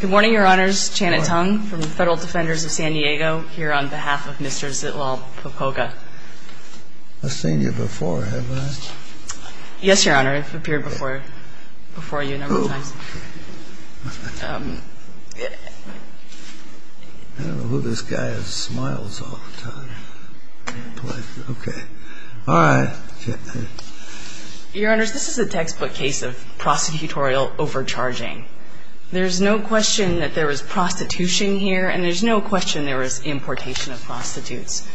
Good morning, Your Honors. Janet Tung from the Federal Defenders of San Diego here on behalf of Mr. Zitlalpopoca. I've seen you before, haven't I? Yes, Your Honor. I've appeared before you a number of times. Oh. I don't know who this guy is. Smiles all the time. Okay. All right. Your Honors, this is a textbook case of prosecutorial overcharging. There's no question that there was prostitution here, and there's no question there was importation of prostitutes.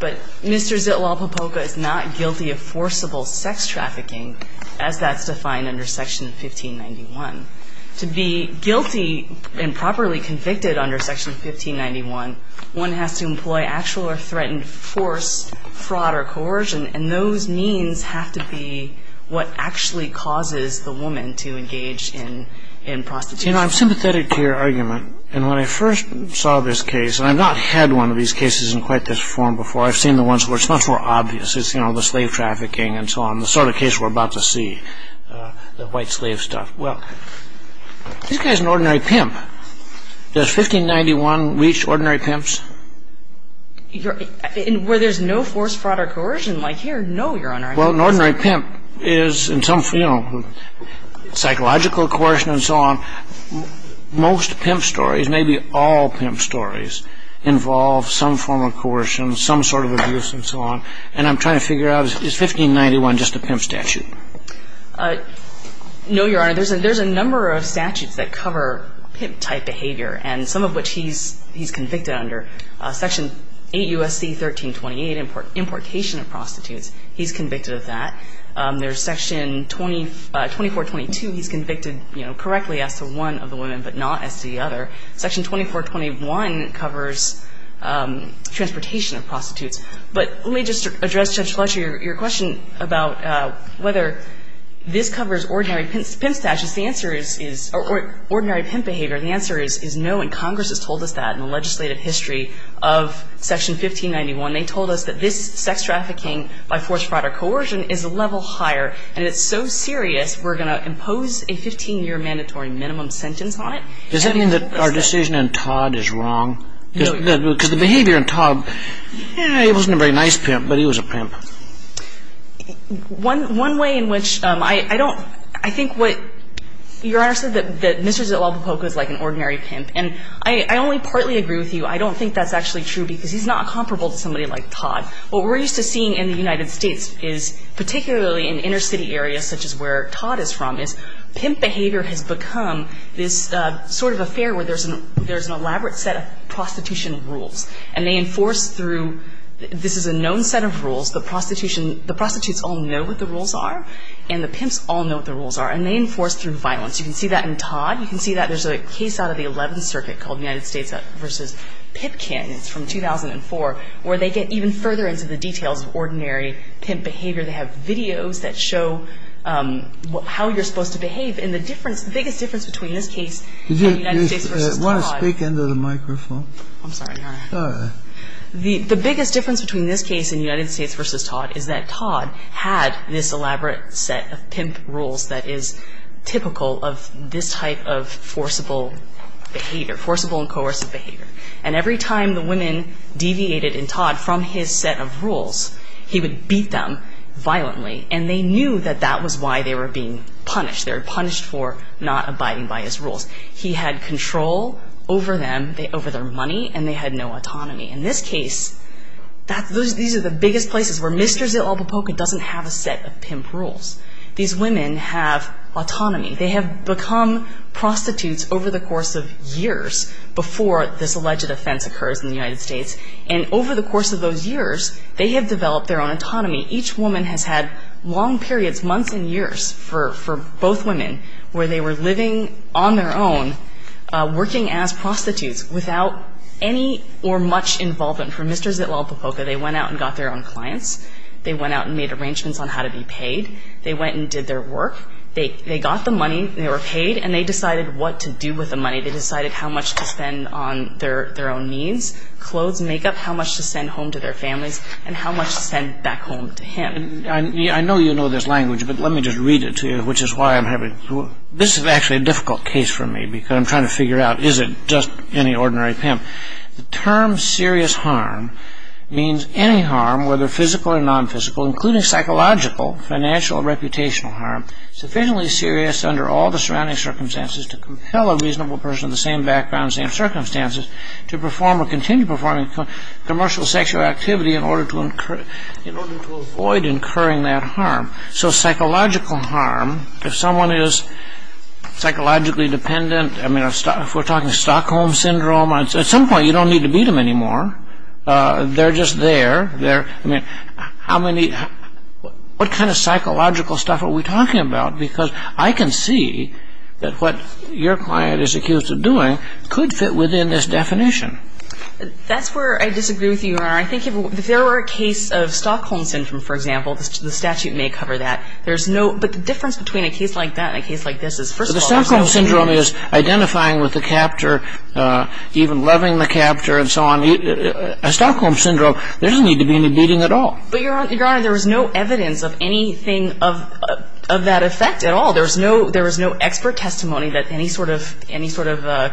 But Mr. Zitlalpopoca is not guilty of forcible sex trafficking, as that's defined under Section 1591. To be guilty and properly convicted under Section 1591, one has to employ actual or threatened force, fraud or coercion, and those means have to be what actually causes the woman to engage in prostitution. You know, I'm sympathetic to your argument. And when I first saw this case, and I've not had one of these cases in quite this form before. I've seen the ones where it's much more obvious. It's, you know, the slave trafficking and so on, the sort of case we're about to see, the white slave stuff. Well, this guy's an ordinary pimp. Does 1591 reach ordinary pimps? Where there's no force, fraud or coercion like here, no, Your Honor. Well, an ordinary pimp is in some, you know, psychological coercion and so on. Most pimp stories, maybe all pimp stories involve some form of coercion, some sort of abuse and so on. And I'm trying to figure out, is 1591 just a pimp statute? No, Your Honor. There's a number of statutes that cover pimp-type behavior, and some of which he's convicted under. Section 8 U.S.C. 1328, importation of prostitutes. He's convicted of that. There's Section 2422. He's convicted, you know, correctly as to one of the women, but not as to the other. Section 2421 covers transportation of prostitutes. But let me just address, Judge Fletcher, your question about whether this covers ordinary pimp statutes. The answer is no, and Congress has told us that in the legislative history. Of Section 1591, they told us that this sex trafficking by forced fraud or coercion is a level higher, and it's so serious, we're going to impose a 15-year mandatory minimum sentence on it. Does that mean that our decision in Todd is wrong? No. Because the behavior in Todd, he wasn't a very nice pimp, but he was a pimp. One way in which I don't – I think what Your Honor said, that Mr. Zalapopoca is like an ordinary pimp. And I only partly agree with you. I don't think that's actually true because he's not comparable to somebody like Todd. What we're used to seeing in the United States is, particularly in inner city areas such as where Todd is from, is pimp behavior has become this sort of affair where there's an – there's an elaborate set of prostitution rules. And they enforce through – this is a known set of rules. The prostitution – the prostitutes all know what the rules are, and the pimps all know what the rules are. And they enforce through violence. You can see that in Todd. You can see that there's a case out of the 11th Circuit called United States v. Pipkin. It's from 2004 where they get even further into the details of ordinary pimp behavior. They have videos that show how you're supposed to behave. And the difference – the biggest difference between this case and United States v. Todd – Do you want to speak into the microphone? I'm sorry, Your Honor. All right. The biggest difference between this case and United States v. Todd is that Todd had this elaborate set of pimp rules that is typical of this type of forcible behavior, forcible and coercive behavior. And every time the women deviated in Todd from his set of rules, he would beat them violently, and they knew that that was why they were being punished. They were punished for not abiding by his rules. He had control over them, over their money, and they had no autonomy. In this case, these are the biggest places where Mr. Zitlapopoca doesn't have a set of pimp rules. These women have autonomy. They have become prostitutes over the course of years before this alleged offense occurs in the United States. And over the course of those years, they have developed their own autonomy. Each woman has had long periods, months and years, for both women where they were living on their own, working as prostitutes without any or much involvement. For Mr. Zitlapopoca, they went out and got their own clients. They went out and made arrangements on how to be paid. They went and did their work. They got the money. They were paid, and they decided what to do with the money. They decided how much to spend on their own needs, clothes, makeup, how much to send home to their families, and how much to send back home to him. I know you know this language, but let me just read it to you, which is why I'm having trouble. This is actually a difficult case for me because I'm trying to figure out, is it just any ordinary pimp? The term serious harm means any harm, whether physical or nonphysical, including psychological, financial, or reputational harm, sufficiently serious under all the surrounding circumstances to compel a reasonable person of the same background, same circumstances, to perform or continue performing commercial sexual activity in order to avoid incurring that harm. So psychological harm, if someone is psychologically dependent, I mean, if we're talking Stockholm Syndrome, at some point you don't need to beat them anymore. They're just there. I mean, what kind of psychological stuff are we talking about? Because I can see that what your client is accused of doing could fit within this definition. That's where I disagree with you, Your Honor. I think if there were a case of Stockholm Syndrome, for example, the statute may cover that. There's no ‑‑ but the difference between a case like that and a case like this is, first of all ‑‑ But the Stockholm Syndrome is identifying with the captor, even loving the captor and so on. A Stockholm Syndrome, there doesn't need to be any beating at all. But, Your Honor, there was no evidence of anything of that effect at all. There was no expert testimony that any sort of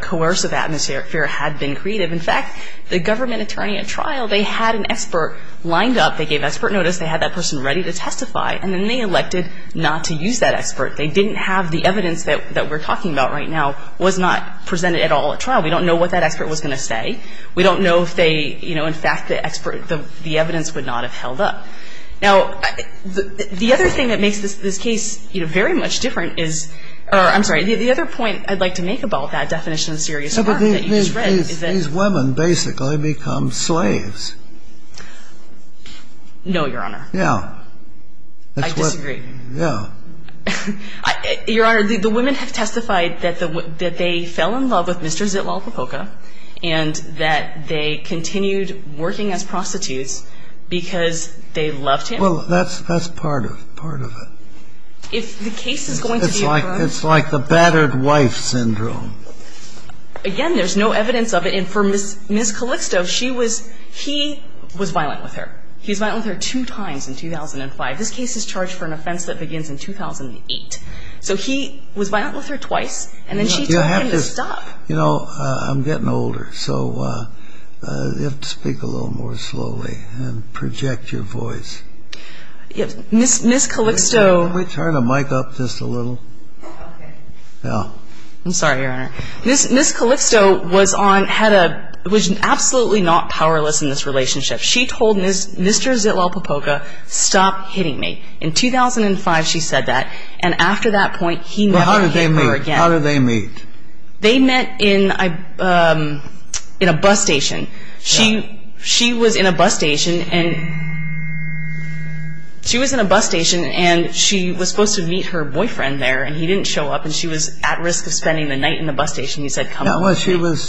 coercive atmosphere had been created. In fact, the government attorney at trial, they had an expert lined up. They gave expert notice. They had that person ready to testify. And then they elected not to use that expert. They didn't have the evidence that we're talking about right now was not presented at all at trial. We don't know what that expert was going to say. We don't know if they, you know, in fact the expert, the evidence would not have held up. Now, the other thing that makes this case, you know, very much different is ‑‑ or I'm sorry, the other point I'd like to make about that definition of serious harm that you just read is that ‑‑ these women basically become slaves. No, Your Honor. Yeah. I disagree. Yeah. Your Honor, the women have testified that they fell in love with Mr. Zitlal Popoca and that they continued working as prostitutes because they loved him. Well, that's part of it. If the case is going to be ‑‑ It's like the battered wife syndrome. Again, there's no evidence of it. And for Ms. Calixto, she was ‑‑ he was violent with her. He was violent with her two times in 2005. This case is charged for an offense that begins in 2008. So he was violent with her twice, and then she told him to stop. You know, I'm getting older, so you have to speak a little more slowly and project your voice. Ms. Calixto ‑‑ Can we turn the mic up just a little? Okay. Yeah. I'm sorry, Your Honor. Ms. Calixto was on ‑‑ had a ‑‑ was absolutely not powerless in this relationship. She told Mr. Zitlal Popoca, stop hitting me. In 2005, she said that. And after that point, he never hit her again. Well, how did they meet? How did they meet? They met in a bus station. She was in a bus station, and she was supposed to meet her boyfriend there, and he didn't show up, and she was at risk of spending the night in the bus station. He said, come home. She was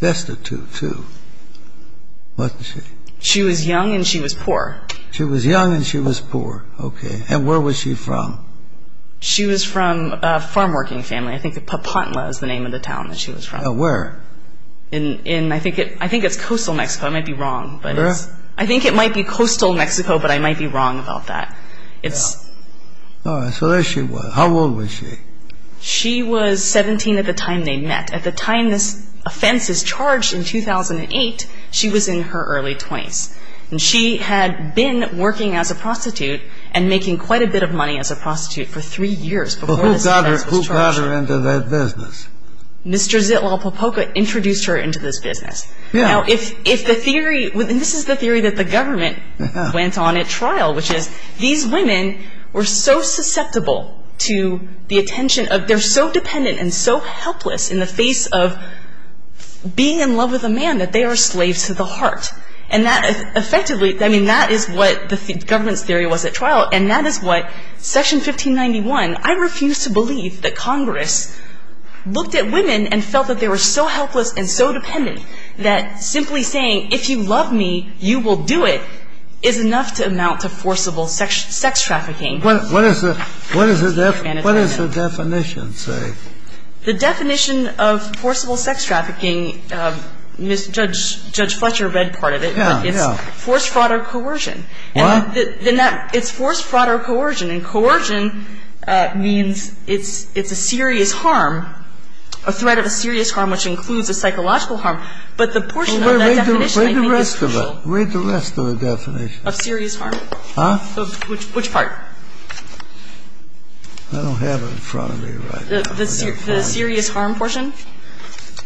destitute, too, wasn't she? She was young, and she was poor. She was young, and she was poor. Okay. And where was she from? She was from a farm working family. I think Papantla is the name of the town that she was from. Where? I think it's coastal Mexico. I might be wrong, but it's ‑‑ Where? I think it might be coastal Mexico, but I might be wrong about that. All right. So there she was. How old was she? She was 17 at the time they met. At the time this offense was charged in 2008, she was in her early 20s, and she had been working as a prostitute and making quite a bit of money as a prostitute for three years before this offense was charged. Who got her into that business? Mr. Zitlal Popoca introduced her into this business. Now, if the theory ‑‑ and this is the theory that the government went on at trial, which is these women were so susceptible to the attention of ‑‑ they're so dependent and so helpless in the face of being in love with a man that they are slaves to the heart. And that effectively ‑‑ I mean, that is what the government's theory was at trial, and that is what section 1591. I refuse to believe that Congress looked at women and felt that they were so helpless and so dependent that simply saying, if you love me, you will do it, is enough to amount to forcible sex trafficking. What is the definition, say? The definition of forcible sex trafficking, Judge Fletcher read part of it. Yeah, yeah. It's force, fraud, or coercion. What? It's force, fraud, or coercion. And coercion means it's a serious harm, a threat of a serious harm, which includes a psychological harm. But the portion of that definition, I think, is crucial. Well, read the rest of it. Read the rest of the definition. Of serious harm. Huh? Which part? I don't have it in front of me right now. The serious harm portion?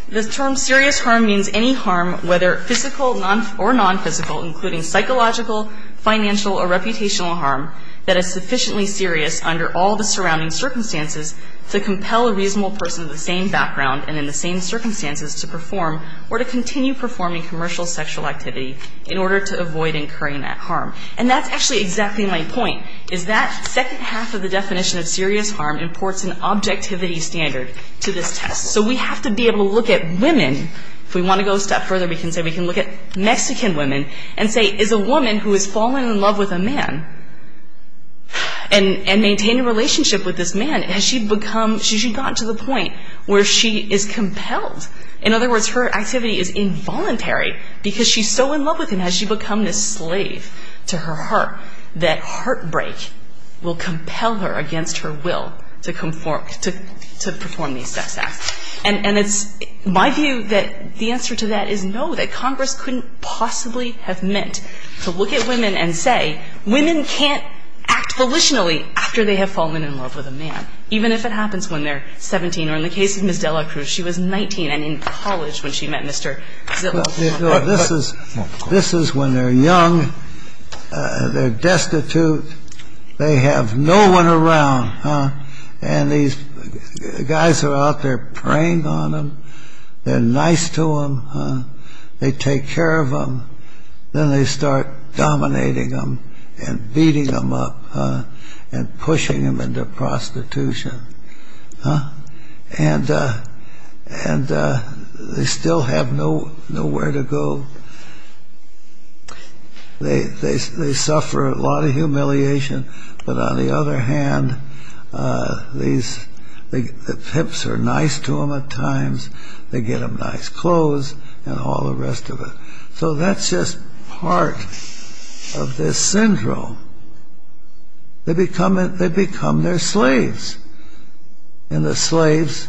The term serious harm means any harm, whether physical or nonphysical, including psychological, financial, or reputational harm, that is sufficiently serious under all the surrounding circumstances to compel a reasonable person of the same background and in the same circumstances to perform or to continue performing commercial sexual activity in order to avoid incurring that harm. And that's actually exactly my point, is that second half of the definition of serious harm imports an objectivity standard to this test. So we have to be able to look at women, if we want to go a step further, we can say we can look at Mexican women and say, is a woman who has fallen in love with a man and maintained a relationship with this man, has she become, has she gotten to the point where she is compelled? In other words, her activity is involuntary because she's so in love with him, has she become this slave to her heart that heartbreak will compel her against her will to perform these sex acts? And it's my view that the answer to that is no, that Congress couldn't possibly have meant to look at women and say women can't act volitionally after they have fallen in love with a man, even if it happens when they're 17 or in the case of Ms. Dela Cruz, she was 19 and in college when she met Mr. Zillow. This is when they're young, they're destitute, they have no one around, and these guys are out there preying on them, they're nice to them, they take care of them, then they start dominating them and beating them up and pushing them into prostitution. And they still have nowhere to go, they suffer a lot of humiliation, but on the other hand, the pimps are nice to them at times, they get them nice clothes and all the rest of it. So that's just part of this syndrome. They become their slaves, and the slaves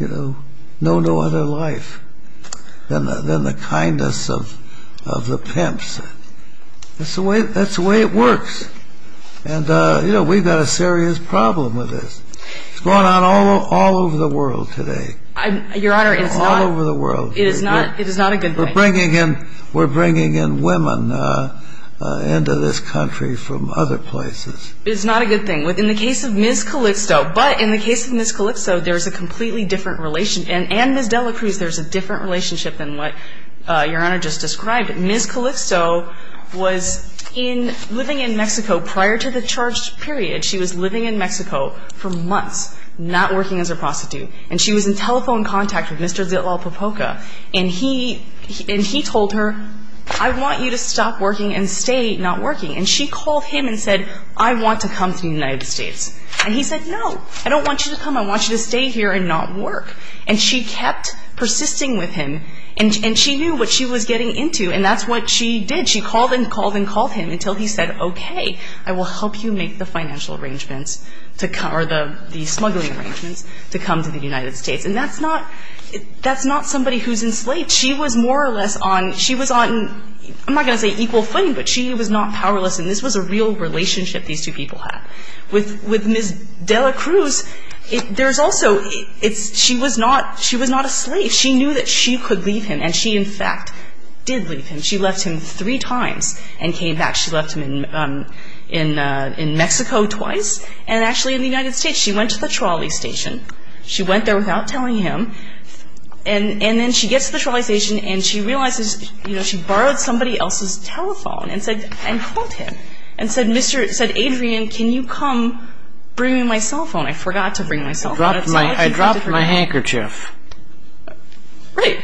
know no other life than the kindness of the pimps. That's the way it works, and we've got a serious problem with this. It's going on all over the world today. Your Honor, it's not a good thing. We're bringing in women into this country from other places. It's not a good thing. In the case of Ms. Calixto, but in the case of Ms. Calixto, there's a completely different relation, and Ms. Dela Cruz, there's a different relationship than what Your Honor just described. Ms. Calixto was living in Mexico prior to the charged period. She was living in Mexico for months, not working as a prostitute, and she was in telephone contact with Mr. de la Popoca, and he told her, I want you to stop working and stay not working. And she called him and said, I want to come to the United States. And he said, no, I don't want you to come. I want you to stay here and not work. And she kept persisting with him, and she knew what she was getting into, and that's what she did. She called and called and called him until he said, okay, I will help you make the financial arrangements to come, or the smuggling arrangements to come to the United States. And that's not somebody who's enslaved. She was more or less on, she was on, I'm not going to say equal footing, but she was not powerless, and this was a real relationship these two people had. With Ms. de la Cruz, there's also, she was not a slave. She knew that she could leave him, and she, in fact, did leave him. She left him three times and came back. She left him in Mexico twice, and actually in the United States. She went to the trolley station. She went there without telling him, and then she gets to the trolley station, and she realizes she borrowed somebody else's telephone and called him and said, Adrian, can you come bring me my cell phone? I forgot to bring my cell phone. I dropped my handkerchief. Right.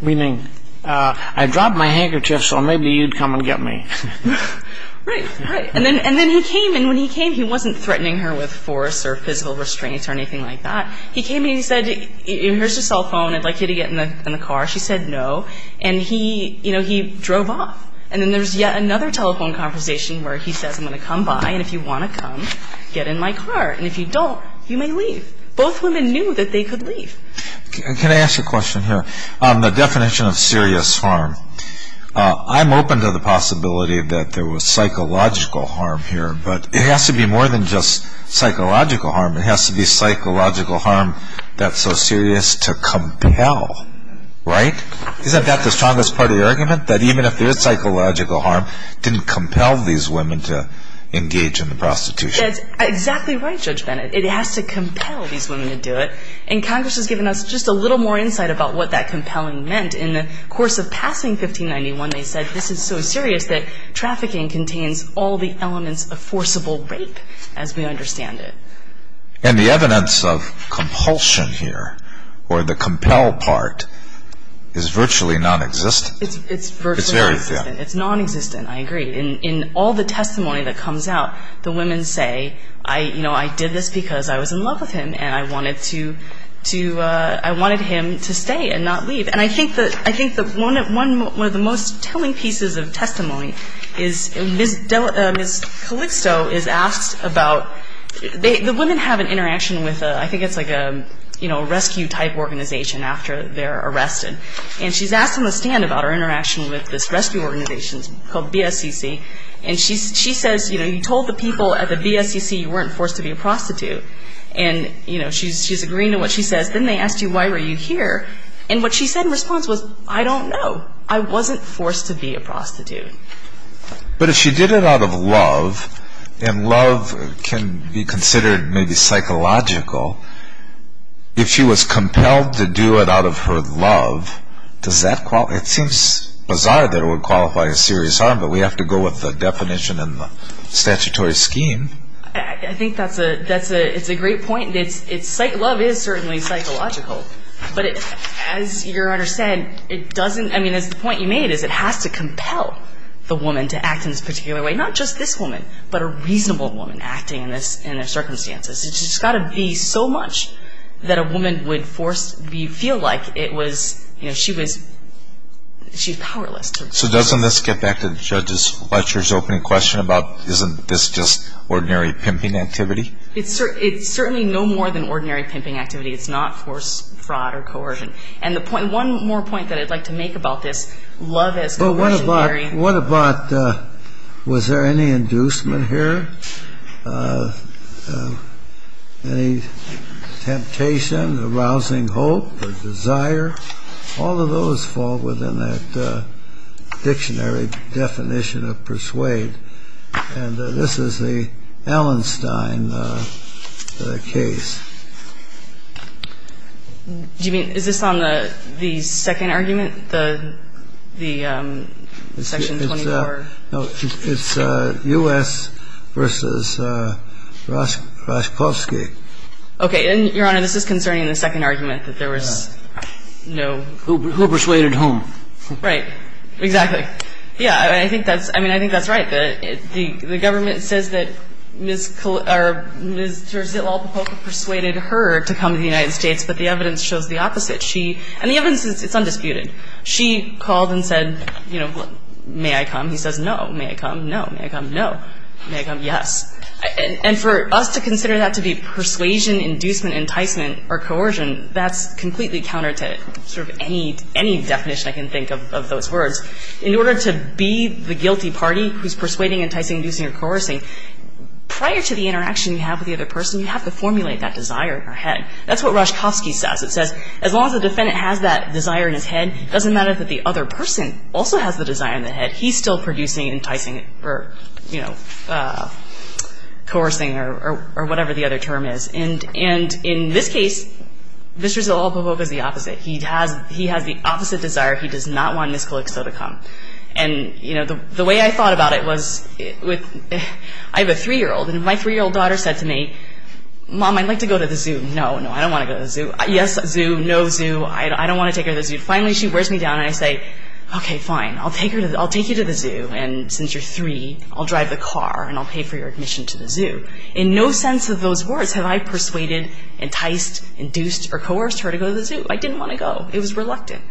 Meaning, I dropped my handkerchief, so maybe you'd come and get me. Right, right. And then he came, and when he came, he wasn't threatening her with force or physical restraints or anything like that. He came and he said, here's your cell phone. I'd like you to get in the car. She said no, and he drove off, and then there's yet another telephone conversation where he says, I'm going to come by, and if you want to come, get in my car, and if you don't, you may leave. Both women knew that they could leave. Can I ask a question here? On the definition of serious harm, I'm open to the possibility that there was psychological harm here, but it has to be more than just psychological harm. It has to be psychological harm that's so serious to compel, right? Isn't that the strongest part of the argument, that even if there's psychological harm, it didn't compel these women to engage in the prostitution? That's exactly right, Judge Bennett. It has to compel these women to do it, and Congress has given us just a little more insight about what that compelling meant. In the course of passing 1591, they said this is so serious that trafficking contains all the elements of forcible rape, as we understand it. And the evidence of compulsion here, or the compel part, is virtually nonexistent? It's virtually nonexistent. It's very thin. It's nonexistent, I agree. In all the testimony that comes out, the women say, I did this because I was in love with him and I wanted him to stay and not leave. And I think that one of the most telling pieces of testimony is, Ms. Calixto is asked about, the women have an interaction with, I think it's like a rescue-type organization after they're arrested. And she's asked on the stand about her interaction with this rescue organization called BSEC. And she says, you know, you told the people at the BSEC you weren't forced to be a prostitute. And, you know, she's agreeing to what she says. Then they asked you, why were you here? And what she said in response was, I don't know. I wasn't forced to be a prostitute. But if she did it out of love, and love can be considered maybe psychological, if she was compelled to do it out of her love, does that qualify? It seems bizarre that it would qualify as serious harm, but we have to go with the definition in the statutory scheme. I think that's a great point. Love is certainly psychological. But as Your Honor said, it doesn't – I mean, the point you made is it has to compel the woman to act in this particular way. Not just this woman, but a reasonable woman acting in their circumstances. It's just got to be so much that a woman would feel like she was powerless. So doesn't this get back to Judge Fletcher's opening question about isn't this just ordinary pimping activity? It's certainly no more than ordinary pimping activity. It's not forced fraud or coercion. And the point – one more point that I'd like to make about this. Love is coercionary. Well, what about – what about – was there any inducement here? Any temptation, arousing hope or desire? All of those fall within that dictionary definition of persuade. And this is the Allenstein case. Do you mean – is this on the second argument, the section 24? No. It's U.S. v. Raskowski. Okay. And, Your Honor, this is concerning the second argument, that there was no – Who persuaded whom? Right. Exactly. Yeah. I think that's – I mean, I think that's right. The government says that Ms. – or Mr. Zitlalpapoka persuaded her to come to the United States. But the evidence shows the opposite. She – and the evidence is undisputed. She called and said, you know, may I come? He says no. May I come? No. May I come? No. May I come? Yes. And for us to consider that to be persuasion, inducement, enticement or coercion, that's completely counter to sort of any definition I can think of of those words. In order to be the guilty party who's persuading, enticing, inducing or coercing, prior to the interaction you have with the other person, you have to formulate that desire in her head. That's what Raskowski says. It says as long as the defendant has that desire in his head, it doesn't matter that the other person also has the desire in their head. He's still producing, enticing or, you know, coercing or whatever the other term is. And in this case, Zitlalpapoka is the opposite. He has the opposite desire. He does not want Ms. Colixo to come. And, you know, the way I thought about it was with – I have a 3-year-old. And if my 3-year-old daughter said to me, Mom, I'd like to go to the zoo. No, no, I don't want to go to the zoo. Yes, zoo. No, zoo. I don't want to take her to the zoo. Finally, she wears me down and I say, okay, fine, I'll take you to the zoo. And since you're 3, I'll drive the car and I'll pay for your admission to the zoo. In no sense of those words have I persuaded, enticed, induced or coerced her to go to the zoo. I didn't want to go. It was reluctant.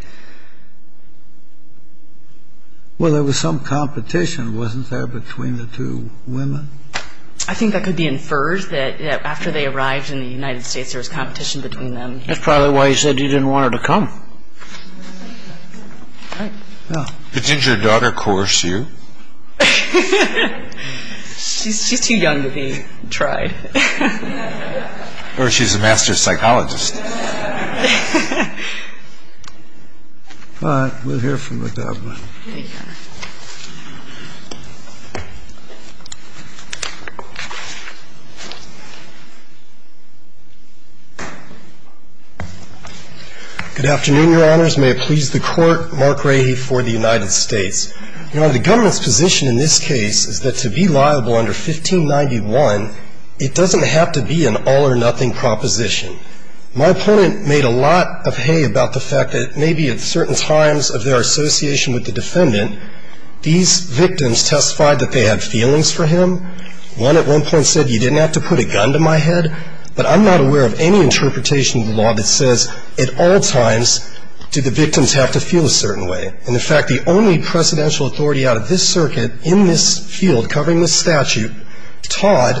Well, there was some competition, wasn't there, between the two women? I think that could be inferred that after they arrived in the United States, there was competition between them. That's probably why you said you didn't want her to come. Didn't your daughter coerce you? She's too young to be tried. Or she's a master psychologist. All right. We'll hear from you about that one. Thank you, Your Honor. Good afternoon, Your Honors. May it please the Court. Mark Rahe for the United States. Your Honor, the government's position in this case is that to be liable under 1591, it doesn't have to be an all or nothing proposition. My opponent made a lot of hay about the fact that maybe at certain times of their association with the defendant, these victims testified that they had feelings for him. One at one point said, you didn't have to put a gun to my head. But I'm not aware of any interpretation of the law that says at all times did the victims have to feel a certain way. And, in fact, the only precedential authority out of this circuit in this field covering this statute, Todd,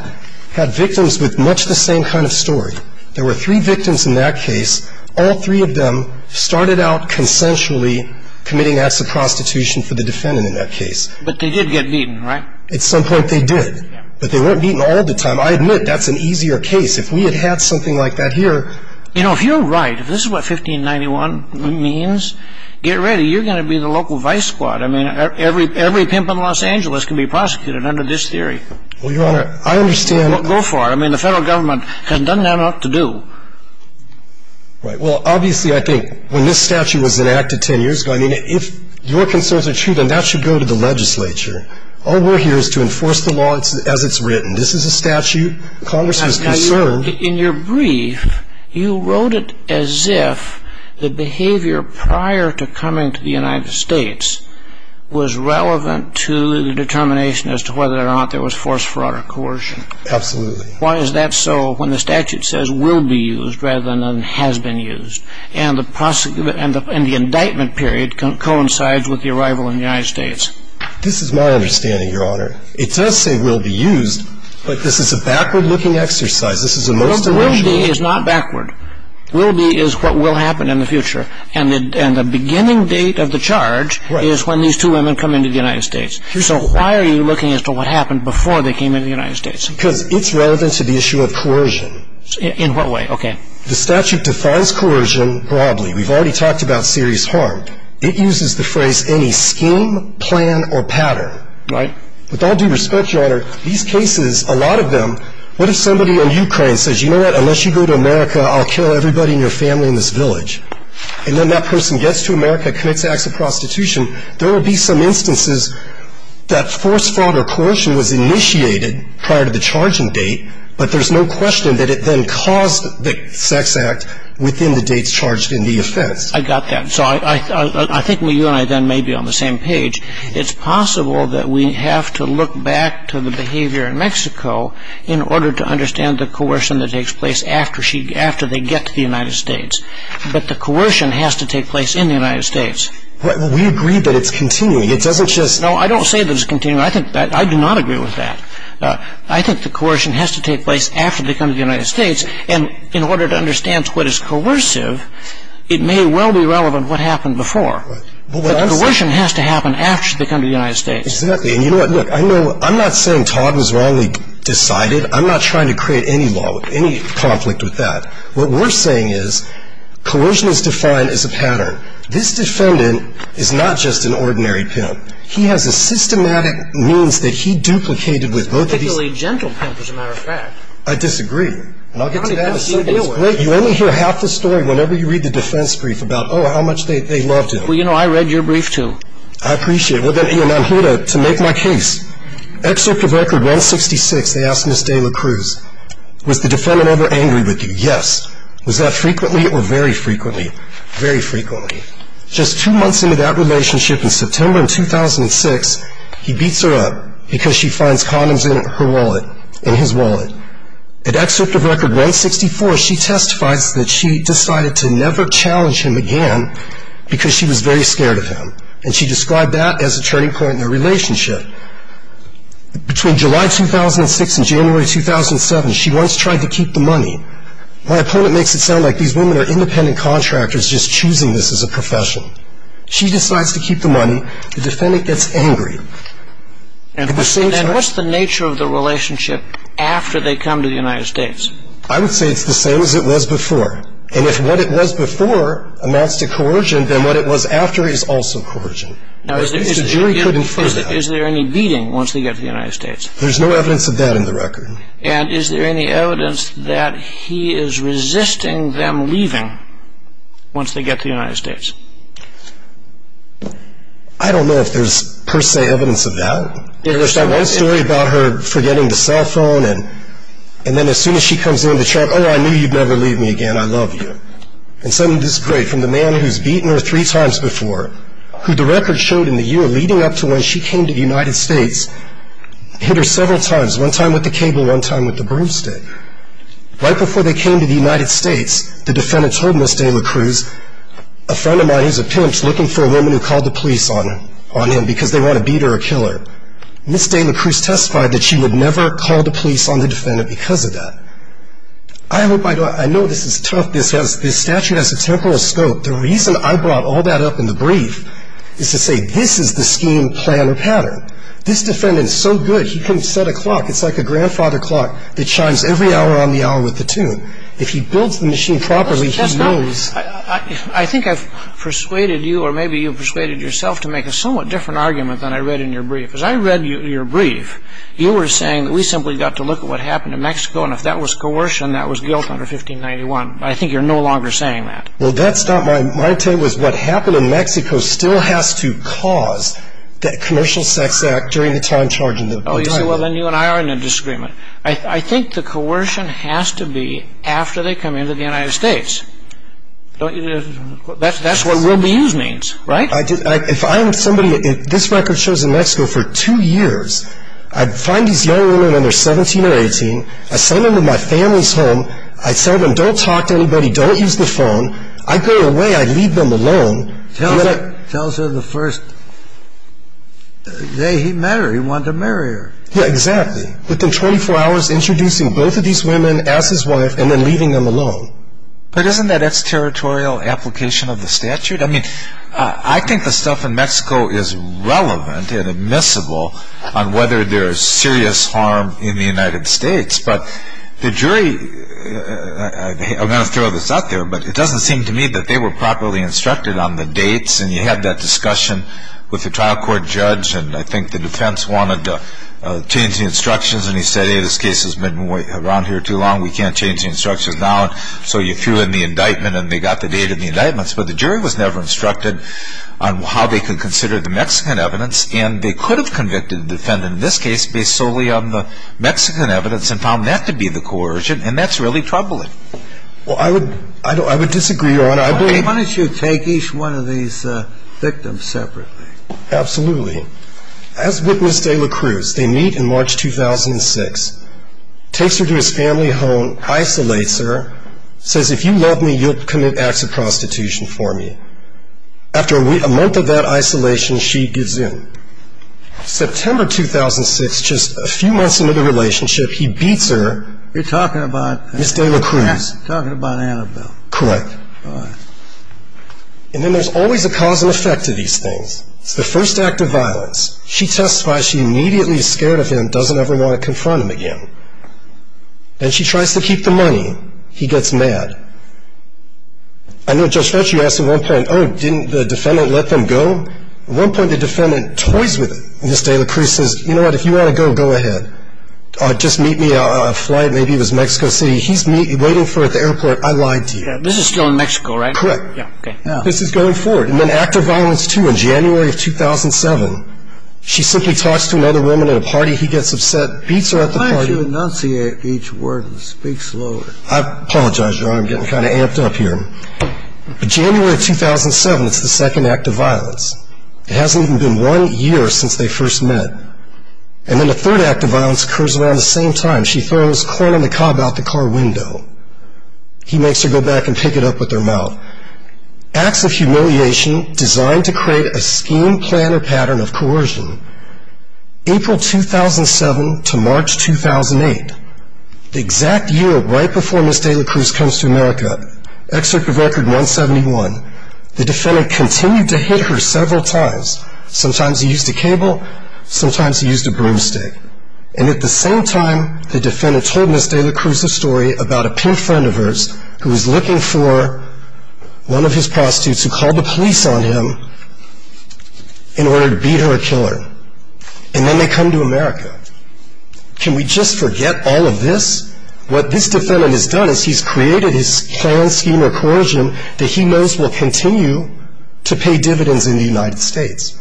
had victims with much the same kind of story. There were three victims in that case. All three of them started out consensually committing acts of prostitution for the defendant in that case. But they did get beaten, right? At some point they did. But they weren't beaten all the time. I admit that's an easier case. If we had had something like that here. You know, if you're right, if this is what 1591 means, get ready. You're going to be the local vice squad. I mean, every pimp in Los Angeles can be prosecuted under this theory. Well, Your Honor, I understand. Well, go for it. I mean, the federal government hasn't done that enough to do. Right. Well, obviously, I think when this statute was enacted 10 years ago, I mean, if your concerns are true, then that should go to the legislature. All we're here is to enforce the law as it's written. This is a statute. Congress is concerned. In your brief, you wrote it as if the behavior prior to coming to the United States was relevant to the determination as to whether or not there was force, fraud, or coercion. Absolutely. Why is that so when the statute says will be used rather than has been used, and the indictment period coincides with the arrival in the United States? This is my understanding, Your Honor. It does say will be used, but this is a backward-looking exercise. This is a most emotional exercise. Will be is not backward. Will be is what will happen in the future, and the beginning date of the charge is when these two women come into the United States. So why are you looking as to what happened before they came into the United States? Because it's relevant to the issue of coercion. In what way? Okay. The statute defines coercion broadly. We've already talked about serious harm. It uses the phrase any scheme, plan, or pattern. Right. With all due respect, Your Honor, these cases, a lot of them, what if somebody in Ukraine says, you know what, unless you go to America, I'll kill everybody in your family in this village, and then that person gets to America, commits acts of prostitution, there will be some instances that forced fraud or coercion was initiated prior to the charging date, but there's no question that it then caused the sex act within the dates charged in the offense. I got that. So I think you and I then may be on the same page. It's possible that we have to look back to the behavior in Mexico in order to understand the coercion that takes place after they get to the United States. But the coercion has to take place in the United States. We agree that it's continuing. It doesn't just – No, I don't say that it's continuing. I do not agree with that. I think the coercion has to take place after they come to the United States, and in order to understand what is coercive, it may well be relevant what happened before. But the coercion has to happen after they come to the United States. Exactly. And you know what, look, I'm not saying Todd was wrongly decided. I'm not trying to create any conflict with that. What we're saying is coercion is defined as a pattern. This defendant is not just an ordinary pimp. He has a systematic means that he duplicated with both of these – A particularly gentle pimp, as a matter of fact. I disagree. And I'll get to that in a second. It's Blake. You only hear half the story whenever you read the defense brief about, oh, how much they loved him. Well, you know, I read your brief too. I appreciate it. Well, then, Ian, I'm here to make my case. Excerpt of Record 166, they asked Ms. De La Cruz, was the defendant ever angry with you? Yes. Was that frequently or very frequently? Very frequently. Just two months into that relationship, in September of 2006, he beats her up because she finds condoms in his wallet. In Excerpt of Record 164, she testifies that she decided to never challenge him again because she was very scared of him. And she described that as a turning point in their relationship. Between July 2006 and January 2007, she once tried to keep the money. My opponent makes it sound like these women are independent contractors just choosing this as a profession. She decides to keep the money. The defendant gets angry. And what's the nature of the relationship after they come to the United States? I would say it's the same as it was before. And if what it was before amounts to coercion, then what it was after is also coercion. Now, is there any beating once they get to the United States? There's no evidence of that in the record. And is there any evidence that he is resisting them leaving once they get to the United States? I don't know if there's per se evidence of that. There's that one story about her forgetting the cell phone, and then as soon as she comes in, the child, oh, I knew you'd never leave me again. I love you. And this is great. From the man who's beaten her three times before, who the record showed in the year leading up to when she came to the United States, hit her several times, one time with the cable, one time with the broomstick. Right before they came to the United States, the defendant told Ms. Dela Cruz, a friend of mine who's a pimp is looking for a woman who called the police on him because they want to beat her or kill her. Ms. Dela Cruz testified that she would never call the police on the defendant because of that. I know this is tough. This statute has a temporal scope. The reason I brought all that up in the brief is to say this is the scheme, plan, or pattern. This defendant is so good, he can set a clock. It's like a grandfather clock that chimes every hour on the hour with the tune. If he builds the machine properly, he knows. I think I've persuaded you or maybe you've persuaded yourself to make a somewhat different argument than I read in your brief. As I read your brief, you were saying that we simply got to look at what happened in Mexico, and if that was coercion, that was guilt under 1591. I think you're no longer saying that. Well, that's not my intent. My intent was what happened in Mexico still has to cause that commercial sex act during the time charging the driver. Oh, you say, well, then you and I are in a disagreement. I think the coercion has to be after they come into the United States. That's what will be used means, right? If I am somebody that this record shows in Mexico for two years, I find these young women when they're 17 or 18, I send them to my family's home, I tell them don't talk to anybody, don't use the phone. I go away, I leave them alone. Tells her the first day he met her, he wanted to marry her. Yeah, exactly. Within 24 hours, introducing both of these women as his wife and then leaving them alone. But isn't that extraterritorial application of the statute? I mean, I think the stuff in Mexico is relevant and admissible on whether there is serious harm in the United States. But the jury, I'm going to throw this out there, but it doesn't seem to me that they were properly instructed on the dates. And you had that discussion with the trial court judge, and I think the defense wanted to change the instructions, and he said, hey, this case has been around here too long. We can't change the instructions now. So you threw in the indictment, and they got the date of the indictments. But the jury was never instructed on how they could consider the Mexican evidence, and they could have convicted the defendant in this case based solely on the Mexican evidence and found that to be the coercion, and that's really troubling. Well, I would disagree, Your Honor. Why don't you take each one of these victims separately? Absolutely. As witnessed, Ayla Cruz, they meet in March 2006, takes her to his family home, isolates her, says, if you love me, you'll commit acts of prostitution for me. After a month of that isolation, she gives in. September 2006, just a few months into the relationship, he beats her. You're talking about? Ms. Ayla Cruz. Talking about Annabelle. Correct. All right. And then there's always a cause and effect to these things. It's the first act of violence. She testifies she immediately is scared of him and doesn't ever want to confront him again. And she tries to keep the money. He gets mad. I know Judge Fetcher, you asked at one point, oh, didn't the defendant let them go? At one point, the defendant toys with Ms. Ayla Cruz and says, you know what, if you want to go, go ahead. Just meet me on a flight. Maybe it was Mexico City. He's waiting for her at the airport. I lied to you. This is still in Mexico, right? Correct. This is going forward. And then act of violence, too. In January of 2007, she simply talks to another woman at a party. He gets upset, beats her at the party. Why don't you enunciate each word and speak slower? I apologize, Your Honor. I'm getting kind of amped up here. In January of 2007, it's the second act of violence. It hasn't even been one year since they first met. And then the third act of violence occurs around the same time. She throws corn on the cob out the car window. He makes her go back and pick it up with her mouth. Acts of humiliation designed to create a scheme, plan, or pattern of coercion. April 2007 to March 2008, the exact year right before Ms. Ayla Cruz comes to America, Excerpt of Record 171, the defendant continued to hit her several times. Sometimes he used a cable. Sometimes he used a broomstick. And at the same time, the defendant told Ms. Ayla Cruz a story about a pimp friend of hers who was looking for one of his prostitutes who called the police on him in order to beat her a killer. And then they come to America. Can we just forget all of this? What this defendant has done is he's created his plan, scheme, or coercion that he knows will continue to pay dividends in the United States.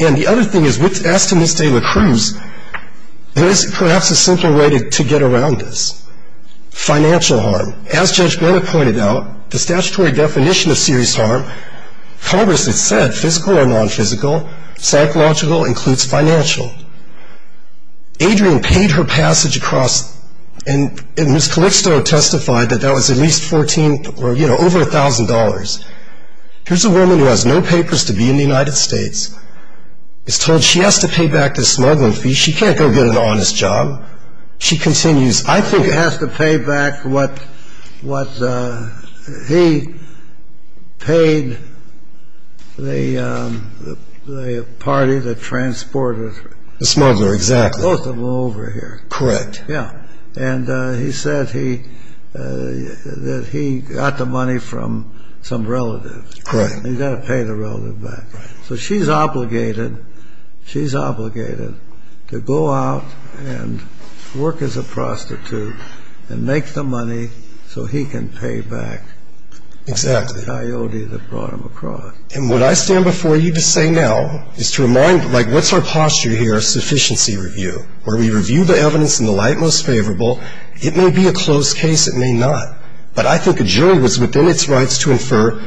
And the other thing is, as to Ms. Ayla Cruz, there's perhaps a simple way to get around this. Financial harm. As Judge Bennett pointed out, the statutory definition of serious harm, Congress has said physical or nonphysical, psychological includes financial. Adrian paid her passage across, and Ms. Calixto testified that that was at least $1,000. Here's a woman who has no papers to be in the United States, is told she has to pay back this smuggling fee. She can't go get an honest job. She continues, I think. She has to pay back what he paid the party that transported her. The smuggler, exactly. Both of them over here. Correct. Yeah. And he said that he got the money from some relative. Correct. He's got to pay the relative back. So she's obligated, she's obligated to go out and work as a prostitute and make the money so he can pay back the coyote that brought him across. And what I stand before you to say now is to remind, like, what's our posture here? A sufficiency review, where we review the evidence in the light most favorable. It may be a closed case. It may not. But I think a jury was within its rights to infer,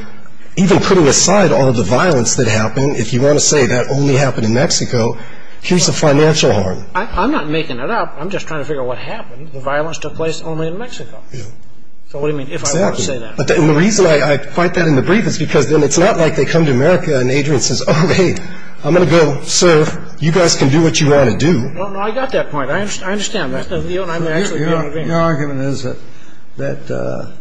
even putting aside all the violence that happened, if you want to say that only happened in Mexico, here's the financial harm. I'm not making that up. I'm just trying to figure out what happened. The violence took place only in Mexico. So what do you mean, if I want to say that? Exactly. And the reason I fight that in the brief is because then it's not like they come to America and Adrian says, oh, hey, I'm going to go serve. You guys can do what you want to do. No, no, I got that point. I understand. Your argument is that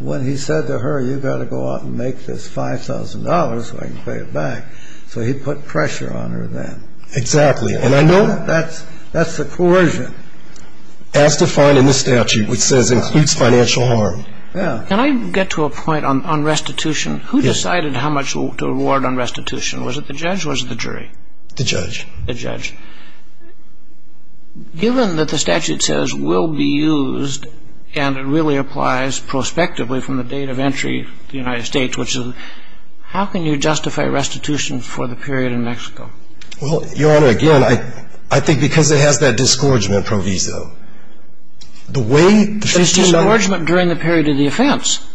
when he said to her, you've got to go out and make this $5,000 so I can pay it back, so he put pressure on her then. Exactly. And I know that's the coercion. As defined in the statute, which says includes financial harm. Yeah. Can I get to a point on restitution? Who decided how much to award on restitution? Was it the judge or was it the jury? The judge. The judge. Given that the statute says will be used and it really applies prospectively from the date of entry to the United States, which is how can you justify restitution for the period in Mexico? Well, Your Honor, again, I think because it has that disgorgement proviso. The way the 1593... It's the engorgement during the period of the offense.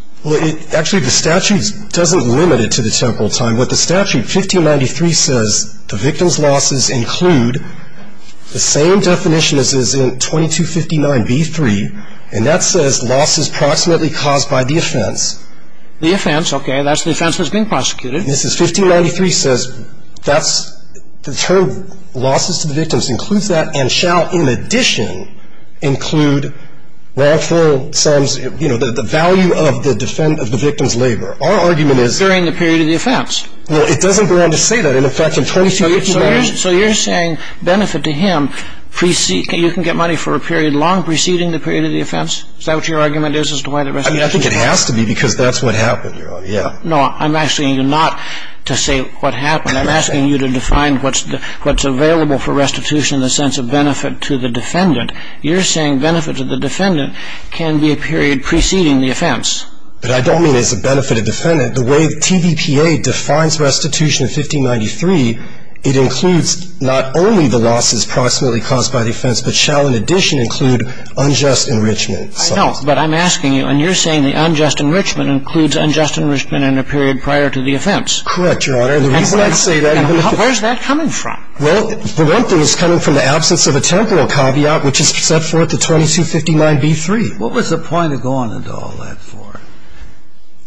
Actually, the statute doesn't limit it to the temporal time. What the statute, 1593, says the victim's losses include the same definition as is in 2259b-3, and that says losses proximately caused by the offense. The offense. Okay, that's the offense that's being prosecuted. This is 1593 says that's the term losses to the victims includes that and shall in addition include wrongful sums, you know, the value of the victim's labor. Our argument is... During the period of the offense. Well, it doesn't go on to say that. In effect, in 2259... So you're saying benefit to him, you can get money for a period long preceding the period of the offense? Is that what your argument is as to why the restitution? I mean, I think it has to be because that's what happened, Your Honor. Yeah. No, I'm asking you not to say what happened. I'm asking you to define what's available for restitution in the sense of benefit to the defendant. You're saying benefit to the defendant can be a period preceding the offense. But I don't mean as a benefit to the defendant. The way TVPA defines restitution in 1593, it includes not only the losses approximately caused by the offense, but shall in addition include unjust enrichment. I know, but I'm asking you, and you're saying the unjust enrichment includes unjust enrichment in a period prior to the offense. Correct, Your Honor. And the reason I say that... Where's that coming from? Well, the one thing is coming from the absence of a temporal caveat, which is set forth in 2259b-3. What was the point of going into all that for?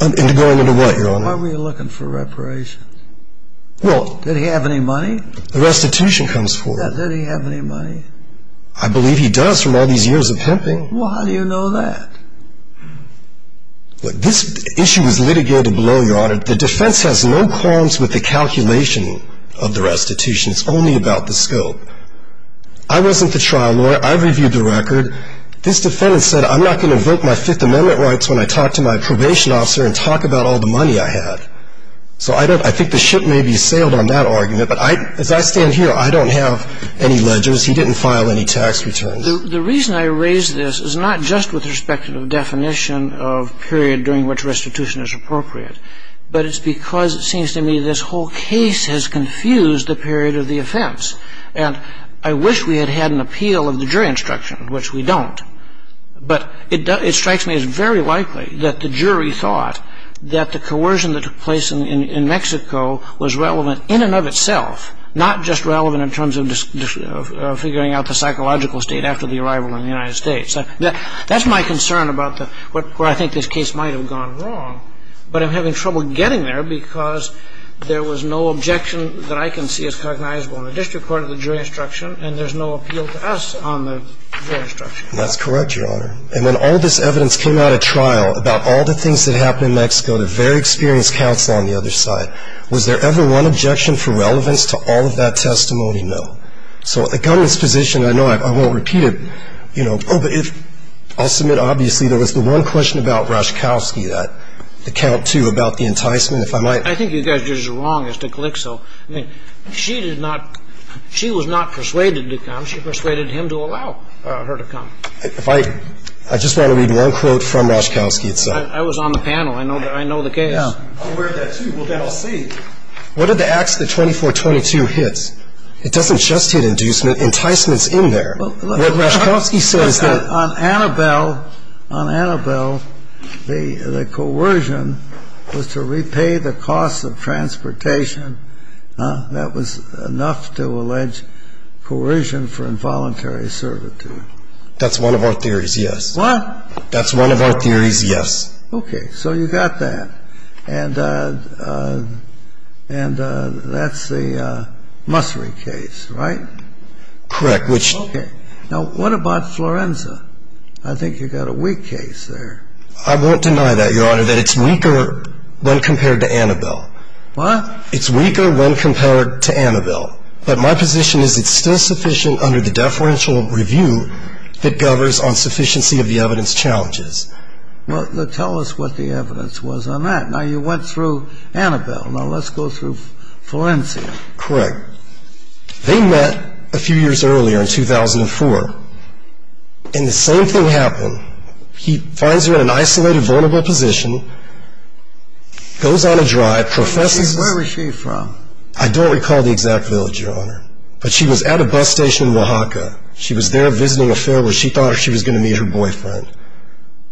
Into going into what, Your Honor? Why were you looking for reparations? Well... Did he have any money? The restitution comes forth. Yeah, did he have any money? I believe he does from all these years of pimping. Well, how do you know that? Look, this issue is litigated below, Your Honor. The defense has no qualms with the calculation of the restitution. It's only about the scope. I wasn't the trial lawyer. I reviewed the record. This defendant said I'm not going to revoke my Fifth Amendment rights when I talk to my probation officer and talk about all the money I had. So I think the ship may be sailed on that argument. But as I stand here, I don't have any ledgers. He didn't file any tax returns. The reason I raise this is not just with respect to the definition of period during which restitution is appropriate, but it's because it seems to me this whole case has confused the period of the offense. And I wish we had had an appeal of the jury instruction, which we don't. But it strikes me as very likely that the jury thought that the coercion that took place in Mexico was relevant in and of itself, not just relevant in terms of figuring out the psychological state after the arrival in the United States. That's my concern about where I think this case might have gone wrong. But I'm having trouble getting there because there was no objection that I can see as cognizable in the district court of the jury instruction and there's no appeal to us on the jury instruction. That's correct, Your Honor. And when all this evidence came out at trial about all the things that happened in Mexico, the very experienced counsel on the other side, was there ever one objection for relevance to all of that testimony? No. So the government's position, I know I won't repeat it, you know, oh, but if ‑‑ I'll submit obviously there was the one question about Rashkovsky, that account, too, about the enticement. If I might. I think you guys are just as wrong as to click so. I mean, she did not ‑‑ she was not persuaded to come. She persuaded him to allow her to come. If I ‑‑ I just want to read one quote from Rashkovsky itself. I was on the panel. I know the case. Yeah. I'll read that, too. Well, then I'll see. What are the acts that 2422 hits? It doesn't just hit inducement. Enticement's in there. What Rashkovsky said is that ‑‑ On Annabelle, on Annabelle, the coercion was to repay the costs of transportation. That was enough to allege coercion for involuntary servitude. That's one of our theories, yes. What? That's one of our theories, yes. Okay. So you got that. And that's the Mussory case, right? Correct. Now, what about Florenza? I think you got a weak case there. I won't deny that, Your Honor, that it's weaker when compared to Annabelle. What? It's weaker when compared to Annabelle. But my position is it's still sufficient under the deferential review that governs on sufficiency of the evidence challenges. Well, then tell us what the evidence was on that. Now, you went through Annabelle. Now, let's go through Florenza. Correct. They met a few years earlier in 2004, and the same thing happened. He finds her in an isolated, vulnerable position, goes on a drive, professes ‑‑ Where was she from? I don't recall the exact village, Your Honor. But she was at a bus station in Oaxaca. She was there visiting a fair where she thought she was going to meet her boyfriend.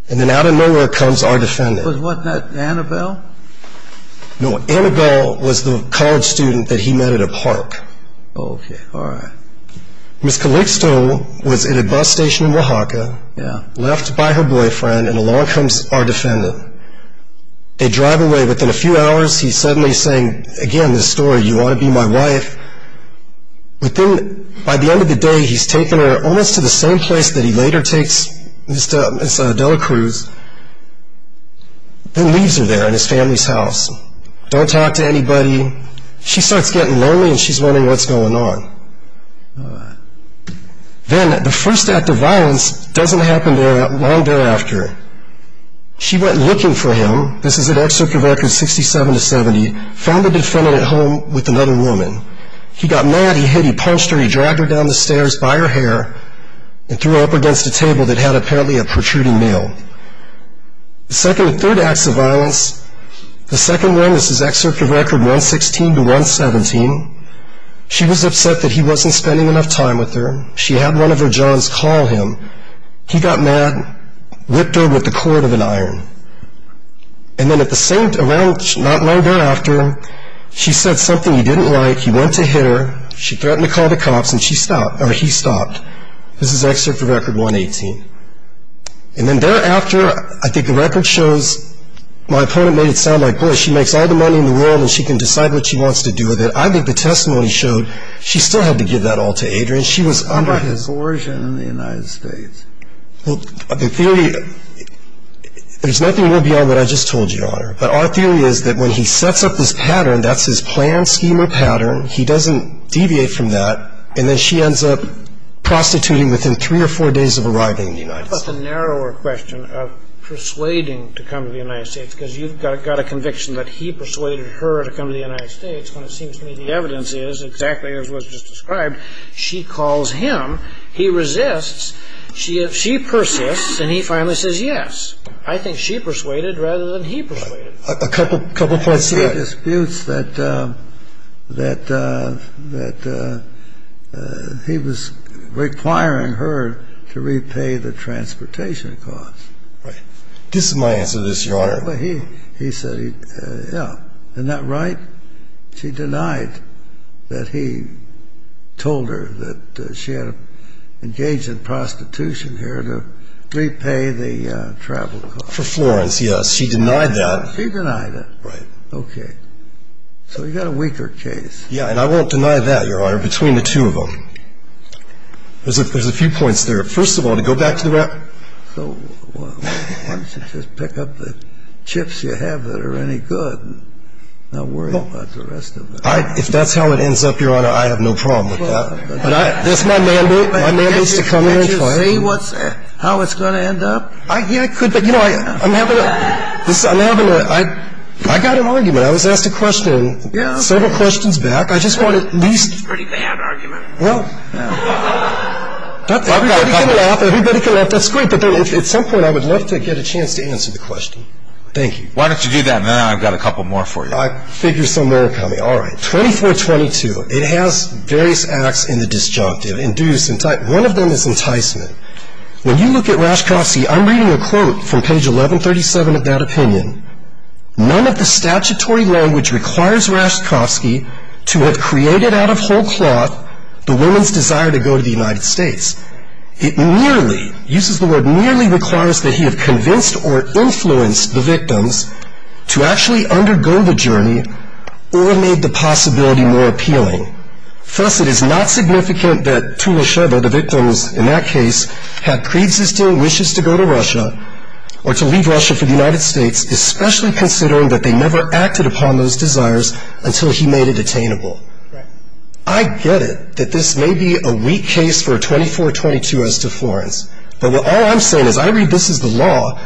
And then out of nowhere comes our defendant. Was what that Annabelle? No, Annabelle was the college student that he met at a park. Okay, all right. Ms. Calixto was at a bus station in Oaxaca, left by her boyfriend, and along comes our defendant. They drive away. Within a few hours, he's suddenly saying, again, this story, you want to be my wife? By the end of the day, he's taken her almost to the same place that he later takes Ms. Adela Cruz, and leaves her there in his family's house. Don't talk to anybody. She starts getting lonely, and she's wondering what's going on. Then the first act of violence doesn't happen long thereafter. She went looking for him. This is at Executive Orders 67 to 70, found the defendant at home with another woman. He got mad, he hit her, he punched her, he dragged her down the stairs by her hair and threw her up against a table that had apparently a protruding nail. The second and third acts of violence, the second one is his Executive Record 116 to 117. She was upset that he wasn't spending enough time with her. She had one of her johns call him. He got mad, whipped her with the cord of an iron. And then at the same, around not long thereafter, she said something he didn't like. He went to hit her. She threatened to call the cops, and he stopped. This is Executive Record 118. And then thereafter, I think the record shows my opponent made it sound like, boy, she makes all the money in the world, and she can decide what she wants to do with it. I think the testimony showed she still had to give that all to Adrian. She was under his coercion in the United States. But our theory is that when he sets up this pattern, that's his plan, scheme, or pattern. He doesn't deviate from that. And then she ends up prostituting within three or four days of arriving in the United States. How about the narrower question of persuading to come to the United States? Because you've got a conviction that he persuaded her to come to the United States, when it seems to me the evidence is exactly as was just described. She calls him. He resists. She persists, and he finally says yes. I think she persuaded rather than he persuaded. A couple points to that. He disputes that he was requiring her to repay the transportation costs. Right. This is my answer to this, Your Honor. He said, yeah, isn't that right? She denied that he told her that she had engaged in prostitution here to repay the travel costs. For Florence, yes. She denied that. She denied it. Right. Okay. So you've got a weaker case. Yeah, and I won't deny that, Your Honor, between the two of them. There's a few points there. First of all, to go back to the rapid. I don't think that the argument was based on how he was going to get her to come to the United States. I think that's the argument. Okay. So why don't you just pick up the chips you have that are any good and not worry about the rest of it? If that's how it ends up, Your Honor, I have no problem with that. Just let me go. That's my mandate. My mandate is to come here and try it. Can't you say how it's going to end up? Yeah, I could. You know, I'm having a, I got an argument. I was asked a question several questions back. I just want at least. That's a pretty bad argument. Well, everybody can laugh. Everybody can laugh. That's great. But at some point I would love to get a chance to answer the question. Thank you. Why don't you do that and then I've got a couple more for you. I figure some more are coming. All right. 2422. It has various acts in the disjunctive. Induce, entice. One of them is enticement. When you look at Raskowski, I'm reading a quote from page 1137 of that opinion. None of the statutory language requires Raskowski to have created out of whole cloth the woman's desire to go to the United States. It nearly, uses the word nearly, requires that he have convinced or influenced the victims to actually undergo the journey or made the possibility more appealing. Thus, it is not significant that two or several of the victims in that case have preexisting wishes to go to Russia or to leave Russia for the United States, especially considering that they never acted upon those desires until he made it attainable. Right. I get it that this may be a weak case for 2422 as to Florence. But all I'm saying is I read this as the law.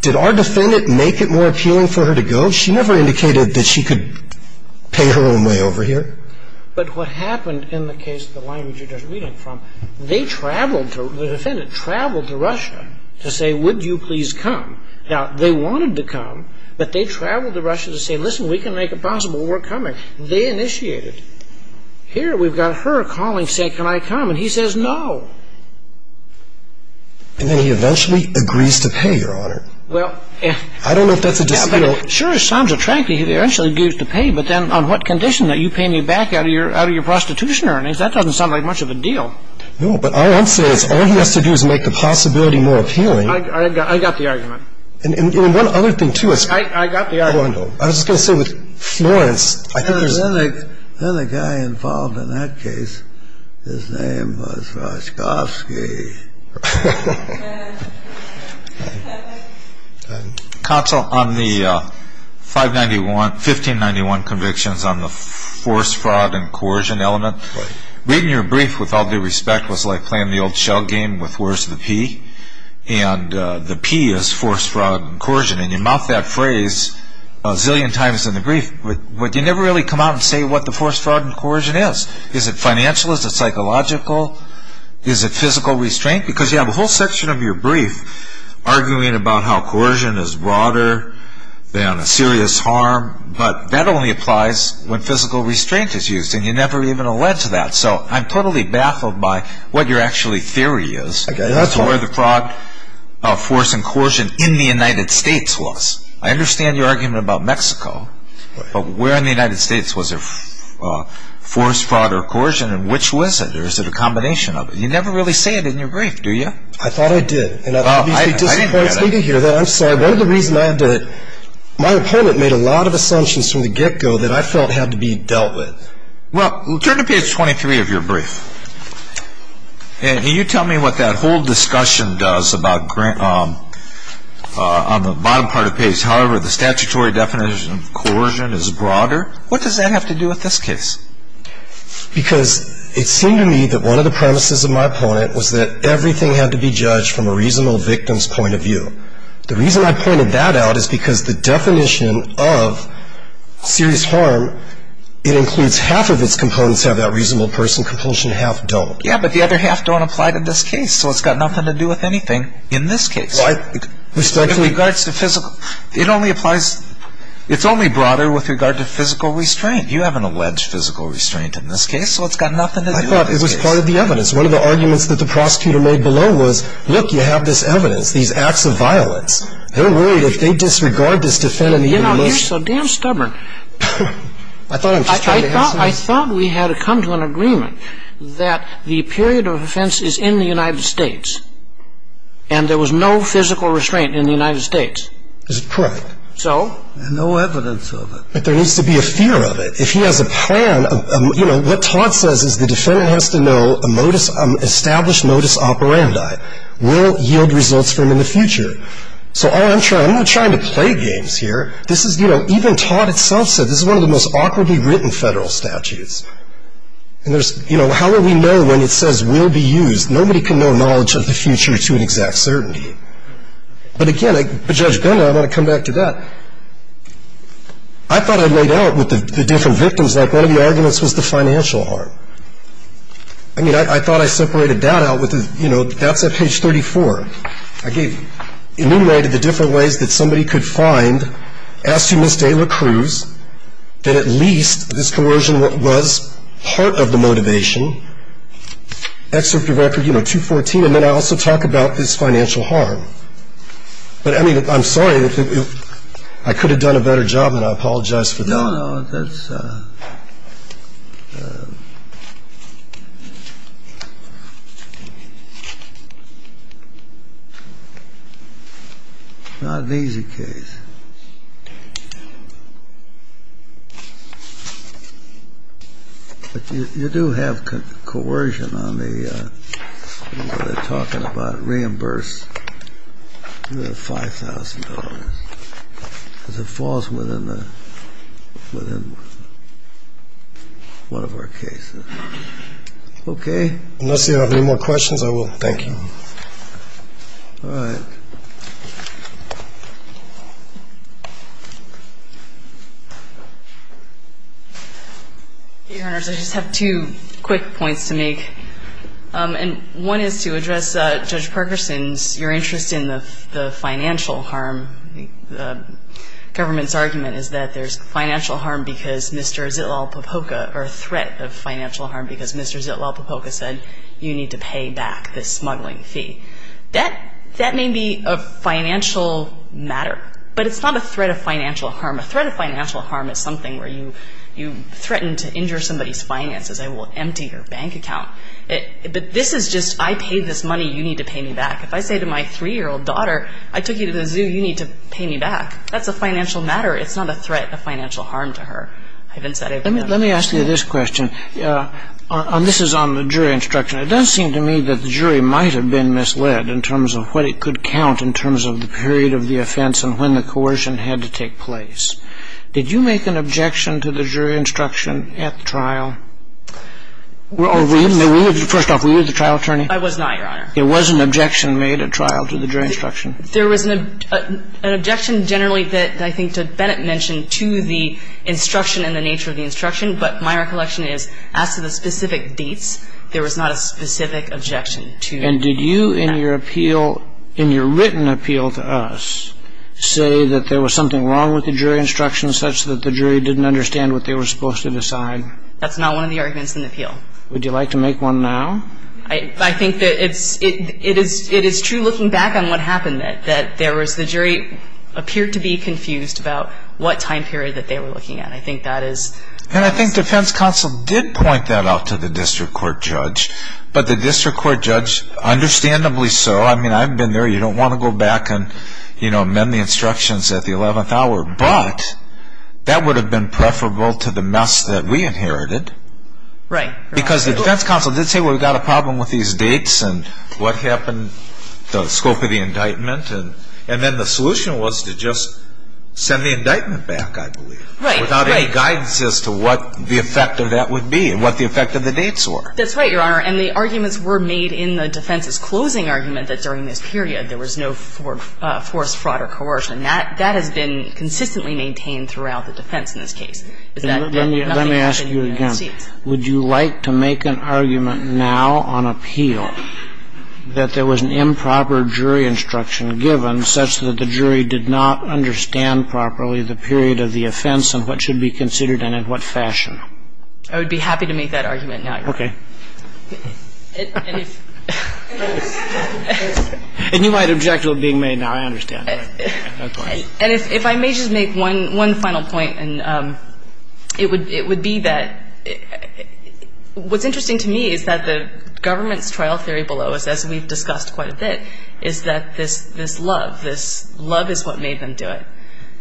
Did our defendant make it more appealing for her to go? She never indicated that she could pay her own way over here. But what happened in the case of the language you're just reading from, they traveled to, the defendant traveled to Russia to say, would you please come. Now, they wanted to come, but they traveled to Russia to say, listen, we can make it possible. We're coming. They initiated. Here we've got her calling, say, can I come? And he says no. And then he eventually agrees to pay, Your Honor. Well. I don't know if that's a dispute. Sure, it sounds attractive. He eventually agrees to pay. But then on what condition? Are you paying me back out of your prostitution earnings? That doesn't sound like much of a deal. No, but all I'm saying is all he has to do is make the possibility more appealing. I got the argument. And one other thing, too. I got the argument. Hold on. I was just going to say with Florence, I think there's. Then the guy involved in that case, his name was Roshkovsky. Counsel, on the 1591 convictions on the force, fraud, and coercion element, reading your brief, with all due respect, was like playing the old shell game with worse of the P. And the P is force, fraud, and coercion. And you mouth that phrase a zillion times in the brief. But you never really come out and say what the force, fraud, and coercion is. Is it financial? Is it psychological? Is it physical restraining? Because you have a whole section of your brief arguing about how coercion is broader than a serious harm. But that only applies when physical restraint is used. And you never even allege that. So I'm totally baffled by what your actually theory is. That's where the fraud, force, and coercion in the United States was. I understand your argument about Mexico. But where in the United States was there force, fraud, or coercion? And which was it? Or is it a combination of it? You never really say it in your brief, do you? I thought I did. And it obviously disappoints me to hear that. I'm sorry. One of the reasons I did it, my opponent made a lot of assumptions from the get-go that I felt had to be dealt with. Well, turn to page 23 of your brief. And you tell me what that whole discussion does on the bottom part of the page. However, the statutory definition of coercion is broader. What does that have to do with this case? Because it seemed to me that one of the premises of my opponent was that everything had to be judged from a reasonable victim's point of view. The reason I pointed that out is because the definition of serious harm, it includes half of its components have that reasonable person compulsion, half don't. Yeah, but the other half don't apply to this case. So it's got nothing to do with anything in this case. In regards to physical, it only applies, it's only broader with regard to physical restraint. You haven't alleged physical restraint in this case, so it's got nothing to do with this case. I thought it was part of the evidence. One of the arguments that the prosecutor made below was, look, you have this evidence, these acts of violence. They're worried if they disregard this defense. You know, you're so damn stubborn. I thought we had come to an agreement that the period of offense is in the United States and there was no physical restraint in the United States. Is it correct? So? No evidence of it. But there needs to be a fear of it. If he has a plan of, you know, what Todd says is the defendant has to know a modus, established modus operandi will yield results for him in the future. So all I'm trying, I'm not trying to play games here. This is, you know, even Todd itself said this is one of the most awkwardly written federal statutes. And there's, you know, how will we know when it says will be used? Nobody can know knowledge of the future to an exact certainty. But again, Judge Gunder, I want to come back to that. I thought I laid out with the different victims, like one of the arguments was the financial harm. I mean, I thought I separated that out with, you know, that's at page 34. I gave, enumerated the different ways that somebody could find, as to Ms. Dela Cruz, that at least this coercion was part of the motivation. And then I also talk about this financial harm. But, I mean, I'm sorry. I could have done a better job, and I apologize for that. No, no, that's not an easy case. You do have coercion on the, what are they talking about, reimburse the $5,000.00. Because it falls within the, within one of our cases. Okay. Unless you have any more questions, I will. Thank you. All right. Thank you. Your Honors, I just have two quick points to make. And one is to address Judge Perkerson's, your interest in the financial harm. The government's argument is that there's financial harm because Mr. Zitlal-Popoca, or a threat of financial harm because Mr. Zitlal-Popoca said you need to pay back this smuggling fee. That may be a financial matter, but it's not a threat of financial harm. A threat of financial harm is something where you threaten to injure somebody's finances. I will empty your bank account. But this is just, I paid this money. You need to pay me back. If I say to my 3-year-old daughter, I took you to the zoo, you need to pay me back. That's a financial matter. It's not a threat of financial harm to her. Let me ask you this question. This is on the jury instruction. It does seem to me that the jury might have been misled in terms of what it could count in terms of the period of the offense and when the coercion had to take place. Did you make an objection to the jury instruction at the trial? Or were you, first off, were you the trial attorney? I was not, Your Honor. It was an objection made at trial to the jury instruction. There was an objection generally that I think that Bennett mentioned to the instruction and the nature of the instruction. But my recollection is, as to the specific dates, there was not a specific objection to that. And did you in your appeal, in your written appeal to us, say that there was something wrong with the jury instruction such that the jury didn't understand what they were supposed to decide? That's not one of the arguments in the appeal. Would you like to make one now? I think that it's, it is true looking back on what happened, that there was, the jury appeared to be confused about what time period that they were looking at. And I think defense counsel did point that out to the district court judge. But the district court judge, understandably so, I mean, I've been there, you don't want to go back and, you know, amend the instructions at the 11th hour. But that would have been preferable to the mess that we inherited. Right. Because the defense counsel did say, well, we've got a problem with these dates and what happened, the scope of the indictment. And then the solution was to just send the indictment back, I believe. Right, right. Without any guidance as to what the effect of that would be and what the effect of the dates were. That's right, Your Honor. And the arguments were made in the defense's closing argument that during this period there was no forced fraud or coercion. That has been consistently maintained throughout the defense in this case. Let me ask you again. Would you like to make an argument now on appeal that there was an improper jury instruction given such that the jury did not understand properly the period of the offense and what should be considered and in what fashion? I would be happy to make that argument now, Your Honor. Okay. And if... And you might object to it being made now. I understand. Okay. And if I may just make one final point, and it would be that what's interesting to me is that the government's trial theory below us, as we've discussed quite a bit, is that this love, this love is what made them do it.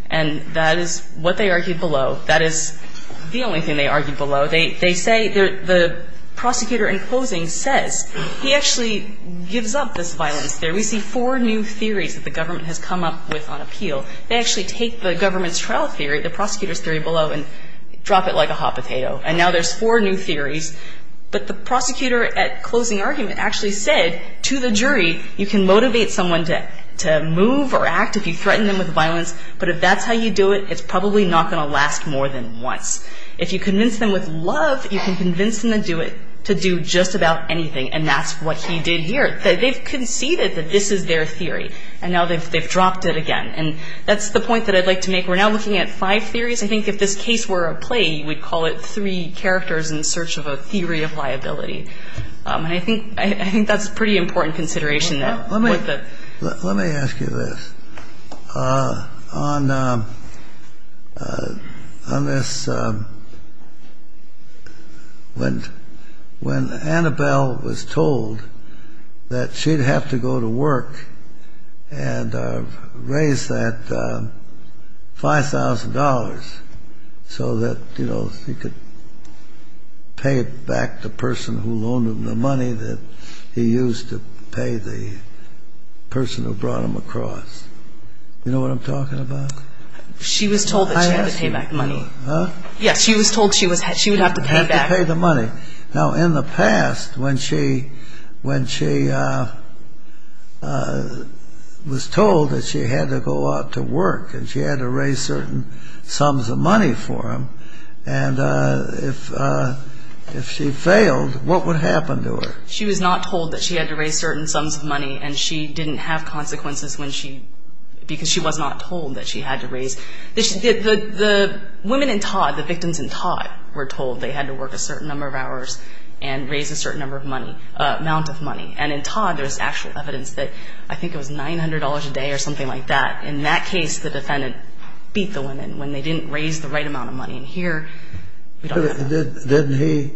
And that is what they argued below. That is the only thing they argued below. They say, the prosecutor in closing says, he actually gives up this violence theory. We see four new theories that the government has come up with on appeal. They actually take the government's trial theory, the prosecutor's theory below, and drop it like a hot potato. And now there's four new theories. But the prosecutor at closing argument actually said to the jury, you can motivate someone to move or act if you threaten them with violence. But if that's how you do it, it's probably not going to last more than once. If you convince them with love, you can convince them to do just about anything. And that's what he did here. They've conceded that this is their theory. And now they've dropped it again. And that's the point that I'd like to make. We're now looking at five theories. I think if this case were a play, you would call it three characters in search of a theory of liability. And I think that's a pretty important consideration. Let me ask you this. On this, when Annabelle was told that she'd have to go to work and raise that $5,000 so that, you that he used to pay the person who brought him across. You know what I'm talking about? She was told that she had to pay back money. Huh? Yes, she was told she would have to pay back. Had to pay the money. Now, in the past, when she was told that she had to go out to work and she had to raise certain sums of money for him. And if she failed, what would happen to her? She was not told that she had to raise certain sums of money. And she didn't have consequences because she was not told that she had to raise. The women in Todd, the victims in Todd, were told they had to work a certain number of hours and raise a certain amount of money. And in Todd, there's actual evidence that I think it was $900 a day or something like that. In that case, the defendant beat the women when they didn't raise the right amount of money. And here, we don't have that.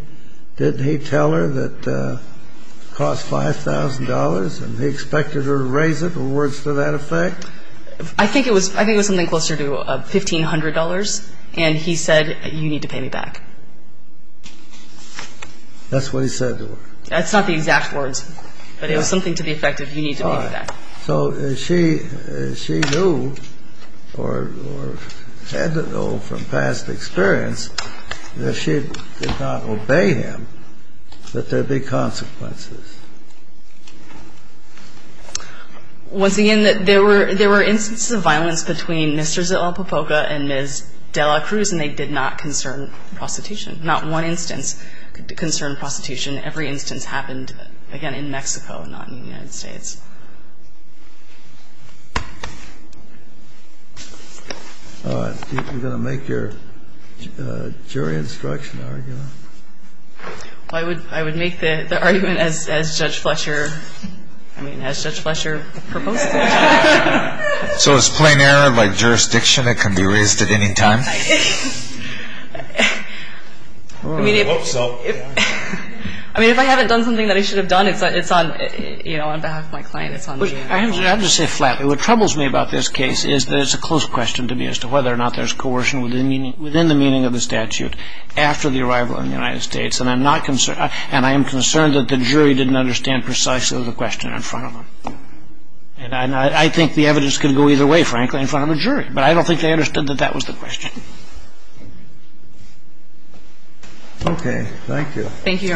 Didn't he tell her that it cost $5,000 and he expected her to raise it? Were words to that effect? I think it was something closer to $1,500. And he said, you need to pay me back. That's what he said to her? That's not the exact words. But it was something to the effect of, you need to pay me back. So she knew or had to know from past experience that she did not obey him, that there'd be consequences. Once again, there were instances of violence between Mr. Zalapopoca and Ms. de la Cruz, and they did not concern prostitution. Not one instance concerned prostitution. Every instance happened, again, in Mexico and not in the United States. All right. You're going to make your jury instruction argument? I would make the argument as Judge Fletcher, I mean, as Judge Fletcher proposed. So it's plain error by jurisdiction? It can be raised at any time? I hope so. I mean, if I haven't done something that I should have done, it's on behalf of my client. I have to say flatly, what troubles me about this case is that it's a close question to me as to whether or not there's coercion within the meaning of the statute after the arrival in the United States. And I am concerned that the jury didn't understand precisely the question in front of them. And I think the evidence can go either way, frankly, in front of a jury. But I don't think they understood that that was the question. Okay. Thank you.